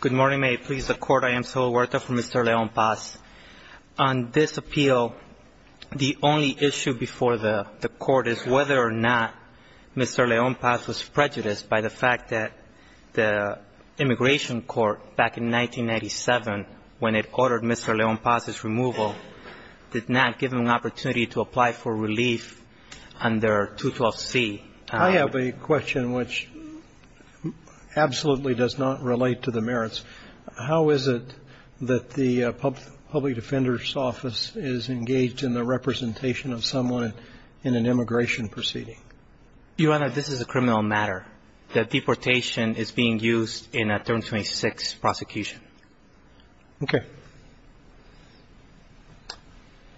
Good morning. May it please the Court, I am Saul Huerta from Mr. Leon-Paz. On this appeal, the only issue before the Court is whether or not Mr. Leon-Paz was prejudiced by the fact that the immigration court back in 1997, when it ordered Mr. Leon-Paz's removal, did not give him an opportunity to apply for relief under 212C. I have a question which absolutely does not relate to the merits. How is it that the public defender's office is engaged in the representation of someone in an immigration proceeding? Your Honor, this is a criminal matter. The deportation is being used in a 326 prosecution. Okay.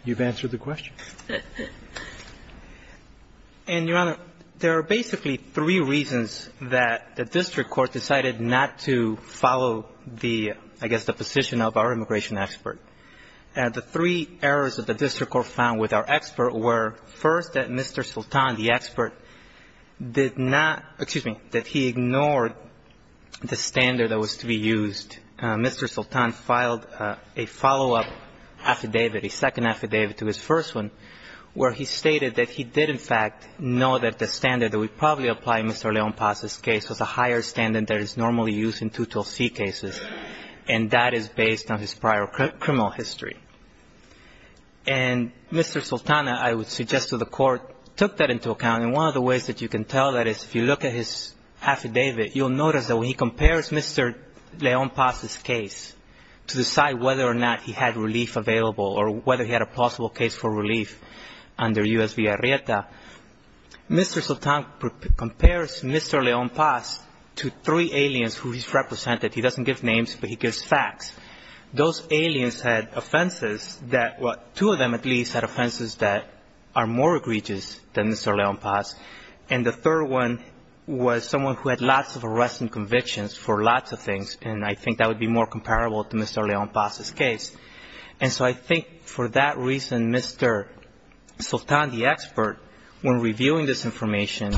You've answered the question. And, Your Honor, there are basically three reasons that the district court decided not to follow the, I guess, the position of our immigration expert. The three errors that the district court found with our expert were, first, that Mr. Sultan, the expert, did not – excuse me – that he ignored the standard that was to be used. In fact, Mr. Sultan filed a follow-up affidavit, a second affidavit to his first one, where he stated that he did, in fact, know that the standard that would probably apply in Mr. Leon-Paz's case was a higher standard that is normally used in 212C cases, and that is based on his prior criminal history. And Mr. Sultan, I would suggest to the Court, took that into account. And one of the ways that you can tell that is if you look at his affidavit, you'll notice that when he compares Mr. Leon-Paz's case to decide whether or not he had relief available or whether he had a possible case for relief under U.S. v. Arrieta, Mr. Sultan compares Mr. Leon-Paz to three aliens who he's represented. He doesn't give names, but he gives facts. Those aliens had offenses that – well, two of them, at least, had offenses that are more egregious than Mr. Leon-Paz. And the third one was someone who had lots of arresting convictions for lots of things, and I think that would be more comparable to Mr. Leon-Paz's case. And so I think for that reason, Mr. Sultan, the expert, when reviewing this information,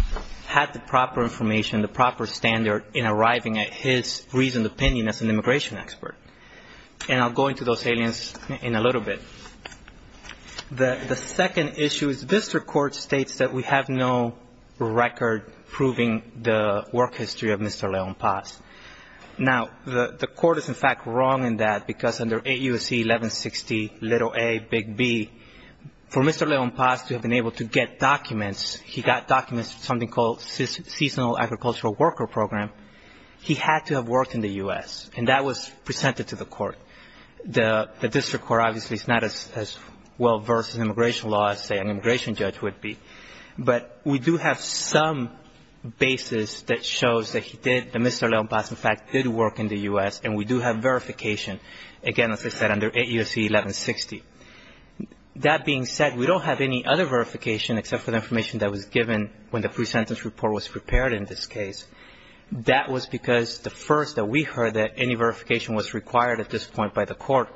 had the proper information, the proper standard in arriving at his reasoned opinion as an immigration expert. And I'll go into those aliens in a little bit. The second issue is district court states that we have no record proving the work history of Mr. Leon-Paz. Now, the court is, in fact, wrong in that because under 8 U.S.C. 1160, little A, big B, for Mr. Leon-Paz to have been able to get documents, he got documents for something called seasonal agricultural worker program. He had to have worked in the U.S., and that was presented to the court. The district court obviously is not as well-versed in immigration law as, say, an immigration judge would be. But we do have some basis that shows that he did, that Mr. Leon-Paz, in fact, did work in the U.S., and we do have verification, again, as I said, under 8 U.S.C. 1160. That being said, we don't have any other verification except for the information that was given when the pre-sentence report was prepared in this case. That was because the first that we heard that any verification was required at this point by the court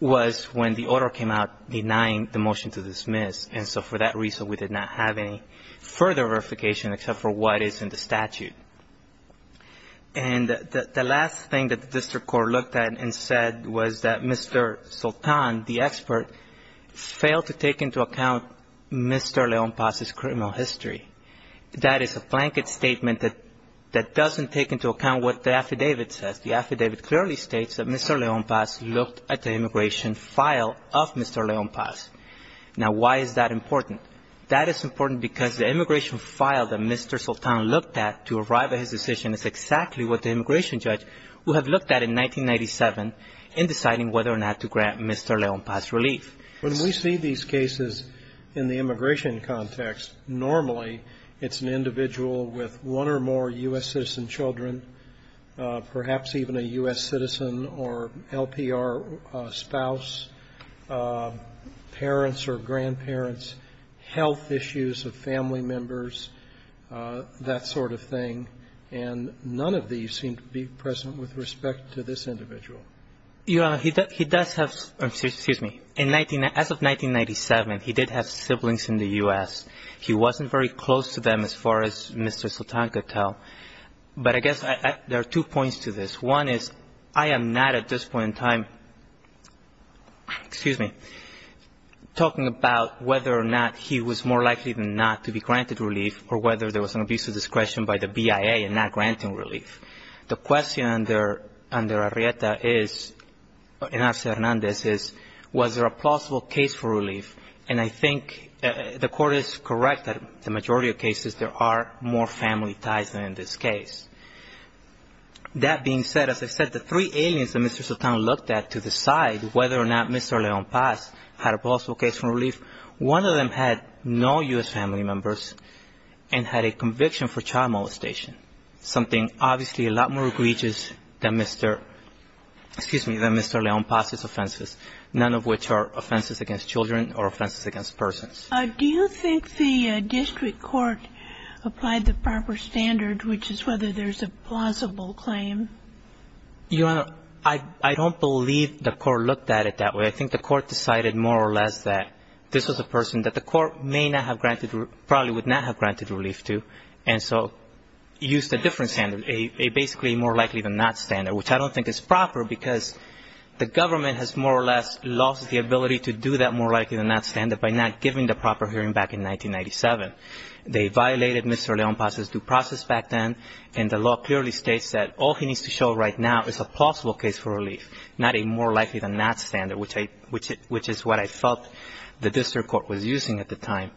was when the order came out denying the motion to dismiss. And so for that reason, we did not have any further verification except for what is in the statute. And the last thing that the district court looked at and said was that Mr. Sultan, the expert, failed to take into account Mr. Leon-Paz's criminal history. That is a blanket statement that doesn't take into account what the affidavit says. The affidavit clearly states that Mr. Leon-Paz looked at the immigration file of Mr. Leon-Paz. Now, why is that important? That is important because the immigration file that Mr. Sultan looked at to arrive at his decision is exactly what the immigration judge would have looked at in 1997 in deciding whether or not to grant Mr. Leon-Paz relief. When we see these cases in the immigration context, normally it's an individual with one or more U.S. citizen children, perhaps even a U.S. citizen or LPR spouse, parents or grandparents, health issues of family members, that sort of thing. And none of these seem to be present with respect to this individual. As of 1997, he did have siblings in the U.S. He wasn't very close to them as far as Mr. Sultan could tell. But I guess there are two points to this. One is I am not at this point in time talking about whether or not he was more likely than not to be granted relief or whether there was an abuse of discretion by the BIA in not granting relief. The question under Arrieta and Arce Hernandez is, was there a plausible case for relief? And I think the court is correct that in the majority of cases there are more family ties than in this case. That being said, as I said, the three aliens that Mr. Sultan looked at to decide whether or not Mr. Leon-Paz had a plausible case for relief, one of them had no U.S. family members and had a conviction for child molestation, something obviously a lot more egregious than Mr. Excuse me, than Mr. Leon-Paz's offenses, none of which are offenses against children or offenses against persons. Do you think the district court applied the proper standard, which is whether there's a plausible claim? Your Honor, I don't believe the court looked at it that way. I think the court decided more or less that this was a person that the court may not have granted, probably would not have granted relief to, and so used a different standard, a basically more likely than not standard, which I don't think is proper because the government has more or less lost the ability to do that more likely than not standard by not giving the proper hearing back in 1997. They violated Mr. Leon-Paz's due process back then, and the law clearly states that all he needs to show right now is a plausible case for relief, not a more likely than not standard, which is what I felt the district court was using at the time.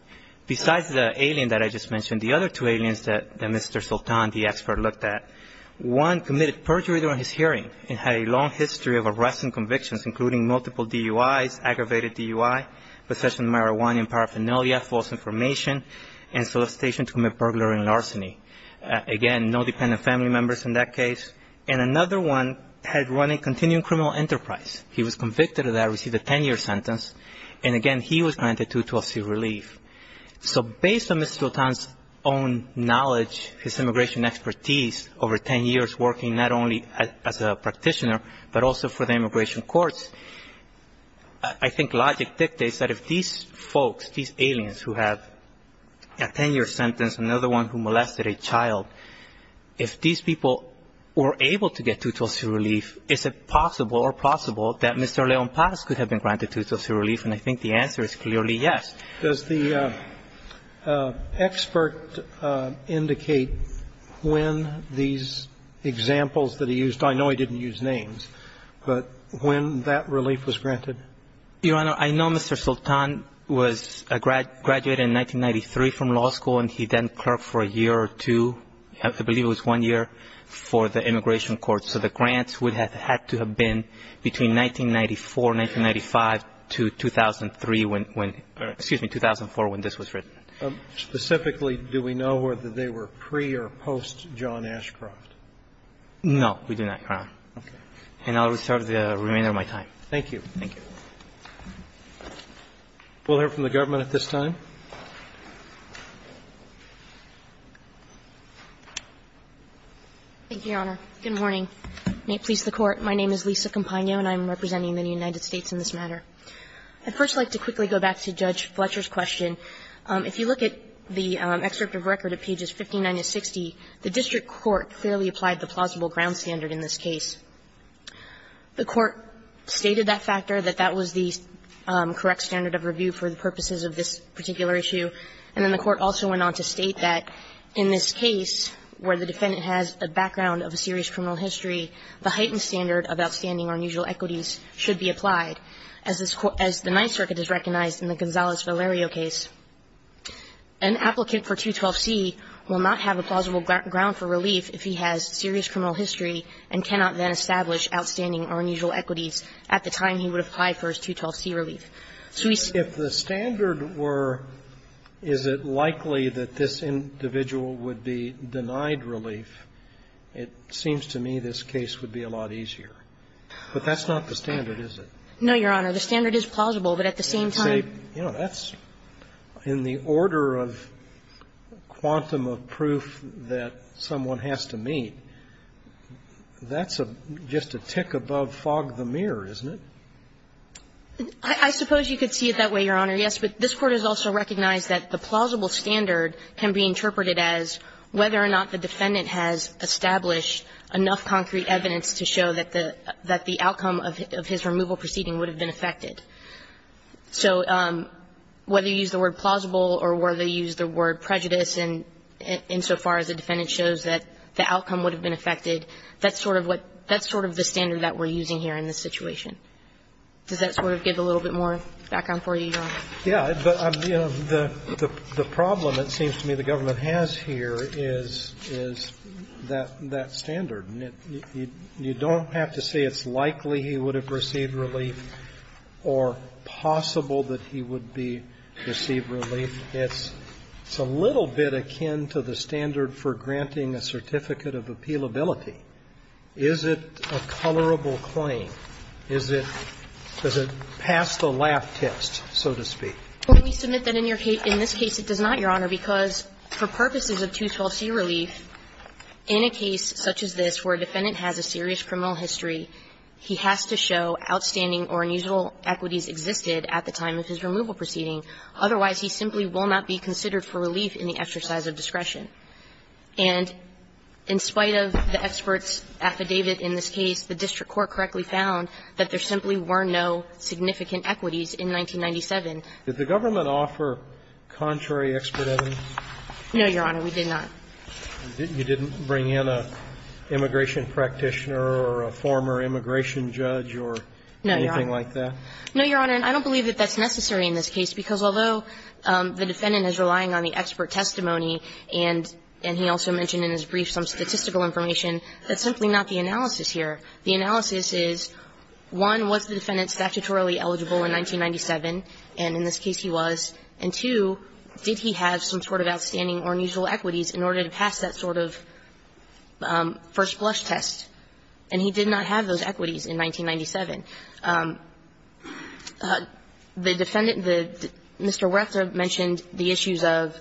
Besides the alien that I just mentioned, the other two aliens that Mr. Sultan, the expert, looked at, one committed perjury during his hearing and had a long history of arrests and convictions, including multiple DUIs, aggravated DUI, possession of marijuana and paraphernalia, false information, and solicitation to commit burglary and larceny. Again, no dependent family members in that case. And another one had run a continuing criminal enterprise. He was convicted of that, received a 10-year sentence, and again, he was granted 212C relief. So based on Mr. Sultan's own knowledge, his immigration expertise over 10 years, working not only as a practitioner but also for the immigration courts, I think logic dictates that if these folks, these aliens who have a 10-year sentence, another one who molested a child, if these people were able to get 212C relief, is it possible or plausible that Mr. Leon Paz could have been granted 212C relief? And I think the answer is clearly yes. Roberts. Does the expert indicate when these examples that he used – I know he didn't use names, but when that relief was granted? Your Honor, I know Mr. Sultan was a graduate in 1993 from law school, and he then clerked for a year or two, I believe it was one year, for the immigration courts. So the grants would have had to have been between 1994, 1995 to 2003 when – excuse me, 2004 when this was written. Specifically, do we know whether they were pre or post John Ashcroft? No, we do not, Your Honor. Okay. We'll hear from the government at this time. Thank you, Your Honor. Good morning. May it please the Court. My name is Lisa Campagno, and I'm representing the United States in this matter. I'd first like to quickly go back to Judge Fletcher's question. If you look at the excerpt of record at pages 59 to 60, the district court clearly applied the plausible ground standard in this case. The Court stated that factor, that that was the correct standard of review for the purposes of this particular issue, and then the Court also went on to state that in this case where the defendant has a background of a serious criminal history, the heightened standard of outstanding or unusual equities should be applied, as the Ninth Circuit has recognized in the Gonzalez-Valerio case. An applicant for 212C will not have a plausible ground for relief if he has serious and established outstanding or unusual equities at the time he would apply for his 212C relief. If the standard were, is it likely that this individual would be denied relief, it seems to me this case would be a lot easier. But that's not the standard, is it? No, Your Honor. The standard is plausible, but at the same time ---- You know, that's in the order of quantum of proof that someone has to meet. That's just a tick above fog the mirror, isn't it? I suppose you could see it that way, Your Honor, yes. But this Court has also recognized that the plausible standard can be interpreted as whether or not the defendant has established enough concrete evidence to show that the outcome of his removal proceeding would have been affected. So whether you use the word plausible or whether you use the word prejudice insofar as the defendant shows that the outcome would have been affected, that's sort of what ---- that's sort of the standard that we're using here in this situation. Does that sort of give a little bit more background for you, Your Honor? Yes. But, you know, the problem, it seems to me, the government has here is that standard. You don't have to say it's likely he would have received relief or possible that he would receive relief. It's a little bit akin to the standard for granting a certificate of appealability. Is it a colorable claim? Is it ---- does it pass the laugh test, so to speak? Well, we submit that in your case ---- in this case it does not, Your Honor, because for purposes of 212c relief, in a case such as this where a defendant has a serious criminal history, he has to show outstanding or unusual equities existed at the time of his removal proceeding. Otherwise, he simply will not be considered for relief in the exercise of discretion. And in spite of the expert's affidavit in this case, the district court correctly found that there simply were no significant equities in 1997. Did the government offer contrary expert evidence? No, Your Honor. We did not. You didn't bring in an immigration practitioner or a former immigration judge or anything like that? No, Your Honor. No, Your Honor, and I don't believe that that's necessary in this case, because although the defendant is relying on the expert testimony and he also mentioned in his brief some statistical information, that's simply not the analysis here. The analysis is, one, was the defendant statutorily eligible in 1997, and in this case he was, and two, did he have some sort of outstanding or unusual equities in order to pass that sort of first blush test? And he did not have those equities in 1997. The defendant, Mr. Werther mentioned the issues of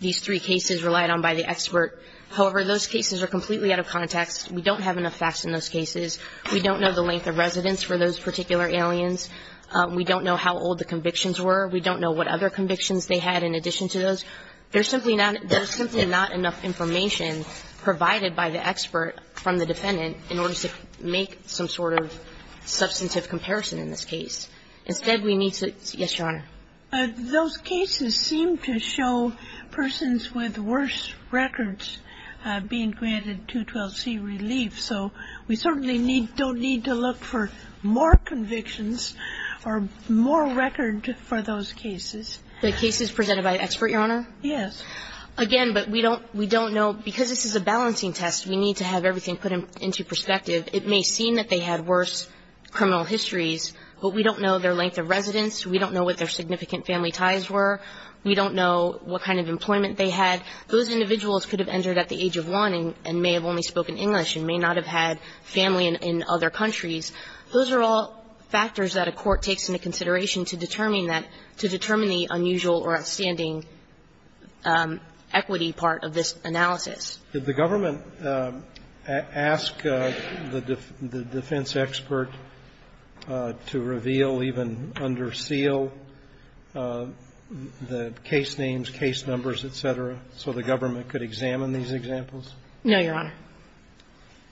these three cases relied on by the expert. However, those cases are completely out of context. We don't have enough facts in those cases. We don't know the length of residence for those particular aliens. We don't know how old the convictions were. We don't know what other convictions they had in addition to those. There's simply not enough information provided by the expert from the defendant in order to make some sort of substantive comparison in this case. Instead, we need to – yes, Your Honor. Those cases seem to show persons with worse records being granted 212C relief, so we certainly need – don't need to look for more convictions or more record for those cases. The cases presented by the expert, Your Honor? Yes. Again, but we don't know, because this is a balancing test, we need to have everything put into perspective. It may seem that they had worse criminal histories, but we don't know their length of residence. We don't know what their significant family ties were. We don't know what kind of employment they had. Those individuals could have entered at the age of 1 and may have only spoken English and may not have had family in other countries. Those are all factors that a court takes into consideration to determine that – to determine the unusual or outstanding equity part of this analysis. Did the government ask the defense expert to reveal, even under seal, the case names, case numbers, et cetera, so the government could examine these examples? No, Your Honor.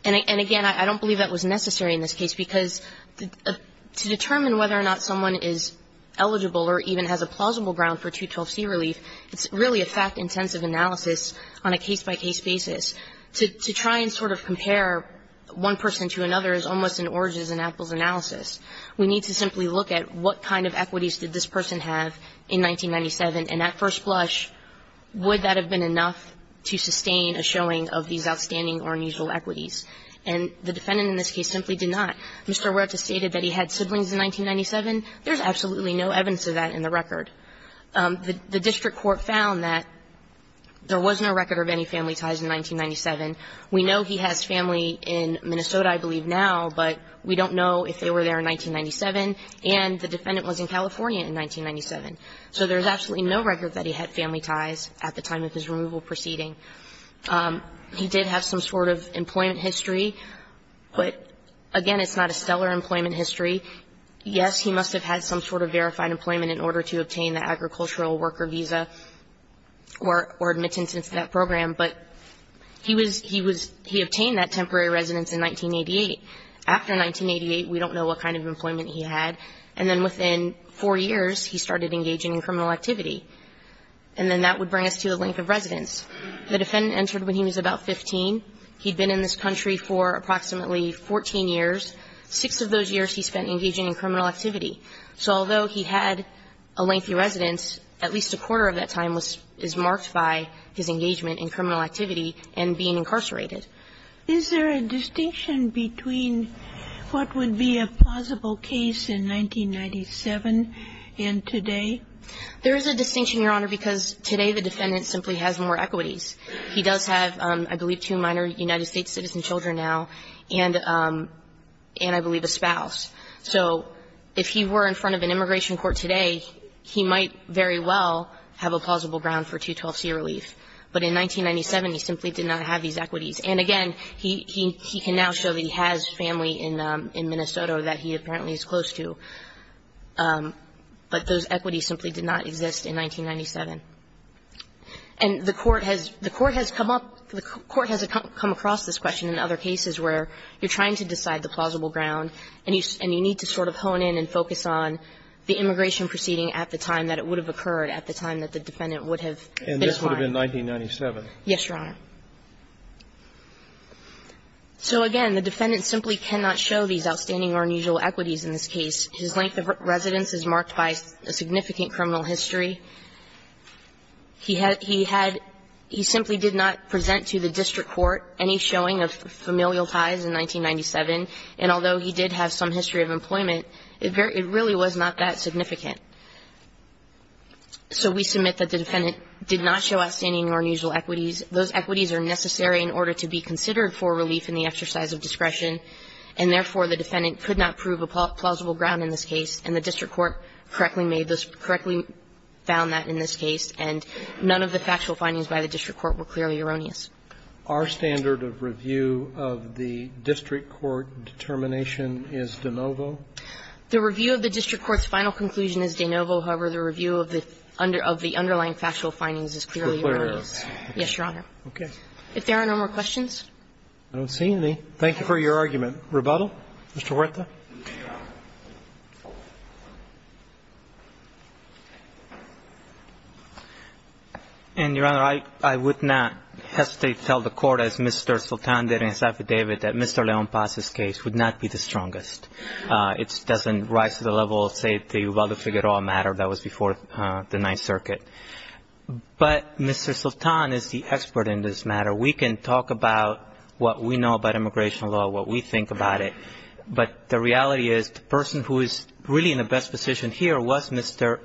And again, I don't believe that was necessary in this case, because to determine whether or not someone is eligible or even has a plausible ground for 212C relief, it's really a fact-intensive analysis on a case-by-case basis. To try and sort of compare one person to another is almost an oranges-and-apples analysis. We need to simply look at what kind of equities did this person have in 1997, and at first blush, would that have been enough to sustain a showing of these outstanding or unusual equities? And the defendant in this case simply did not. Mr. Huerta stated that he had siblings in 1997. There's absolutely no evidence of that in the record. The district court found that there was no record of any family ties in 1997. We know he has family in Minnesota, I believe, now, but we don't know if they were there in 1997, and the defendant was in California in 1997. So there's absolutely no record that he had family ties at the time of his removal proceeding. He did have some sort of employment history, but, again, it's not a stellar employment history. Yes, he must have had some sort of verified employment in order to obtain the agricultural worker visa or admittance into that program, but he was he was he obtained that temporary residence in 1988. After 1988, we don't know what kind of employment he had. And then within four years, he started engaging in criminal activity. And then that would bring us to the length of residence. The defendant entered when he was about 15. He'd been in this country for approximately 14 years. Six of those years he spent engaging in criminal activity. So although he had a lengthy residence, at least a quarter of that time was is marked by his engagement in criminal activity and being incarcerated. Is there a distinction between what would be a plausible case in 1997 and today? There is a distinction, Your Honor, because today the defendant simply has more equities. He does have, I believe, two minor United States citizen children now. And I believe a spouse. So if he were in front of an immigration court today, he might very well have a plausible ground for 212c relief. But in 1997, he simply did not have these equities. And again, he can now show that he has family in Minnesota that he apparently is close to. But those equities simply did not exist in 1997. And the Court has the Court has come up the Court has come across this question in other cases where you're trying to decide the plausible ground, and you need to sort of hone in and focus on the immigration proceeding at the time that it would have occurred, at the time that the defendant would have been gone. And this would have been 1997? Yes, Your Honor. So again, the defendant simply cannot show these outstanding or unusual equities in this case. His length of residence is marked by a significant criminal history. He had he had he simply did not present to the district court any showing of familial ties in 1997. And although he did have some history of employment, it really was not that significant. So we submit that the defendant did not show outstanding or unusual equities. Those equities are necessary in order to be considered for relief in the exercise of discretion. And therefore, the defendant could not prove a plausible ground in this case. And the district court correctly made this, correctly found that in this case. And none of the factual findings by the district court were clearly erroneous. Our standard of review of the district court determination is de novo? The review of the district court's final conclusion is de novo. However, the review of the underlying factual findings is clearly erroneous. Yes, Your Honor. Okay. If there are no more questions. I don't see any. Thank you for your argument. Rebuttal? Mr. Huerta. And, Your Honor, I would not hesitate to tell the court, as Mr. Soltan did in his affidavit, that Mr. León Paz's case would not be the strongest. It doesn't rise to the level of, say, the Ubaldo Figueroa matter that was before the Ninth Circuit. But Mr. Soltan is the expert in this matter. We can talk about what we know about immigration law, what we think about it. But the reality is the person who is really in the best position here was Mr.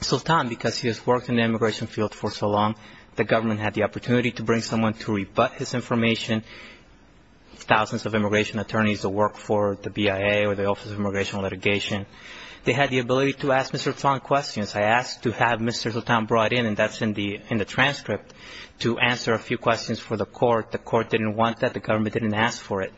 Soltan because he has worked in the immigration field for so long. The government had the opportunity to bring someone to rebut his information. Thousands of immigration attorneys have worked for the BIA or the Office of Immigration Litigation. They had the ability to ask Mr. Soltan questions. I asked to have Mr. Soltan brought in, and that's in the transcript, to answer a few questions for the court. The court didn't want that. The government didn't ask for it.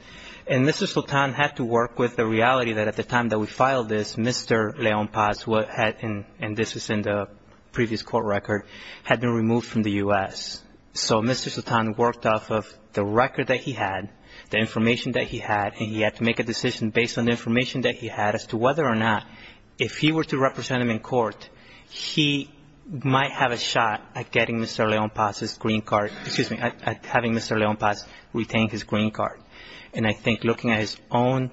And Mr. Soltan had to work with the reality that at the time that we filed this, Mr. León Paz, who had been, and this is in the previous court record, had been removed from the U.S. So Mr. Soltan worked off of the record that he had, the information that he had, and he had to make a decision based on the information that he had as to whether or not if he were to represent him in court, he might have a shot at getting Mr. León Paz's green card, excuse me, at having Mr. León Paz retain his green card. And I think looking at his own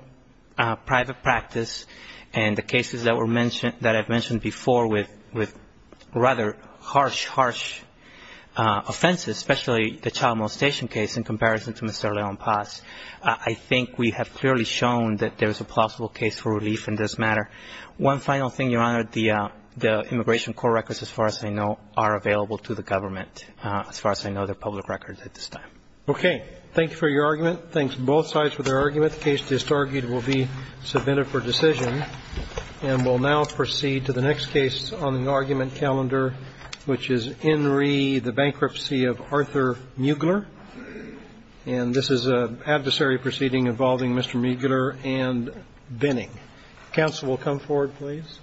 private practice and the cases that were mentioned, that I've mentioned before with rather harsh, harsh offenses, especially the child molestation case in comparison to Mr. León Paz, I think we have clearly shown that there's a possible case for relief in this matter. One final thing, Your Honor, the immigration court records, as far as I know, are available to the government, as far as I know their public records at this time. Okay. Thank you for your argument. Thanks to both sides for their argument. The case disargued will be submitted for decision. And we'll now proceed to the next case on the argument calendar, which is Henry, the bankruptcy of Arthur Mugler. And this is an adversary proceeding involving Mr. Mugler and Binning. Counsel will come forward, please. Thank you.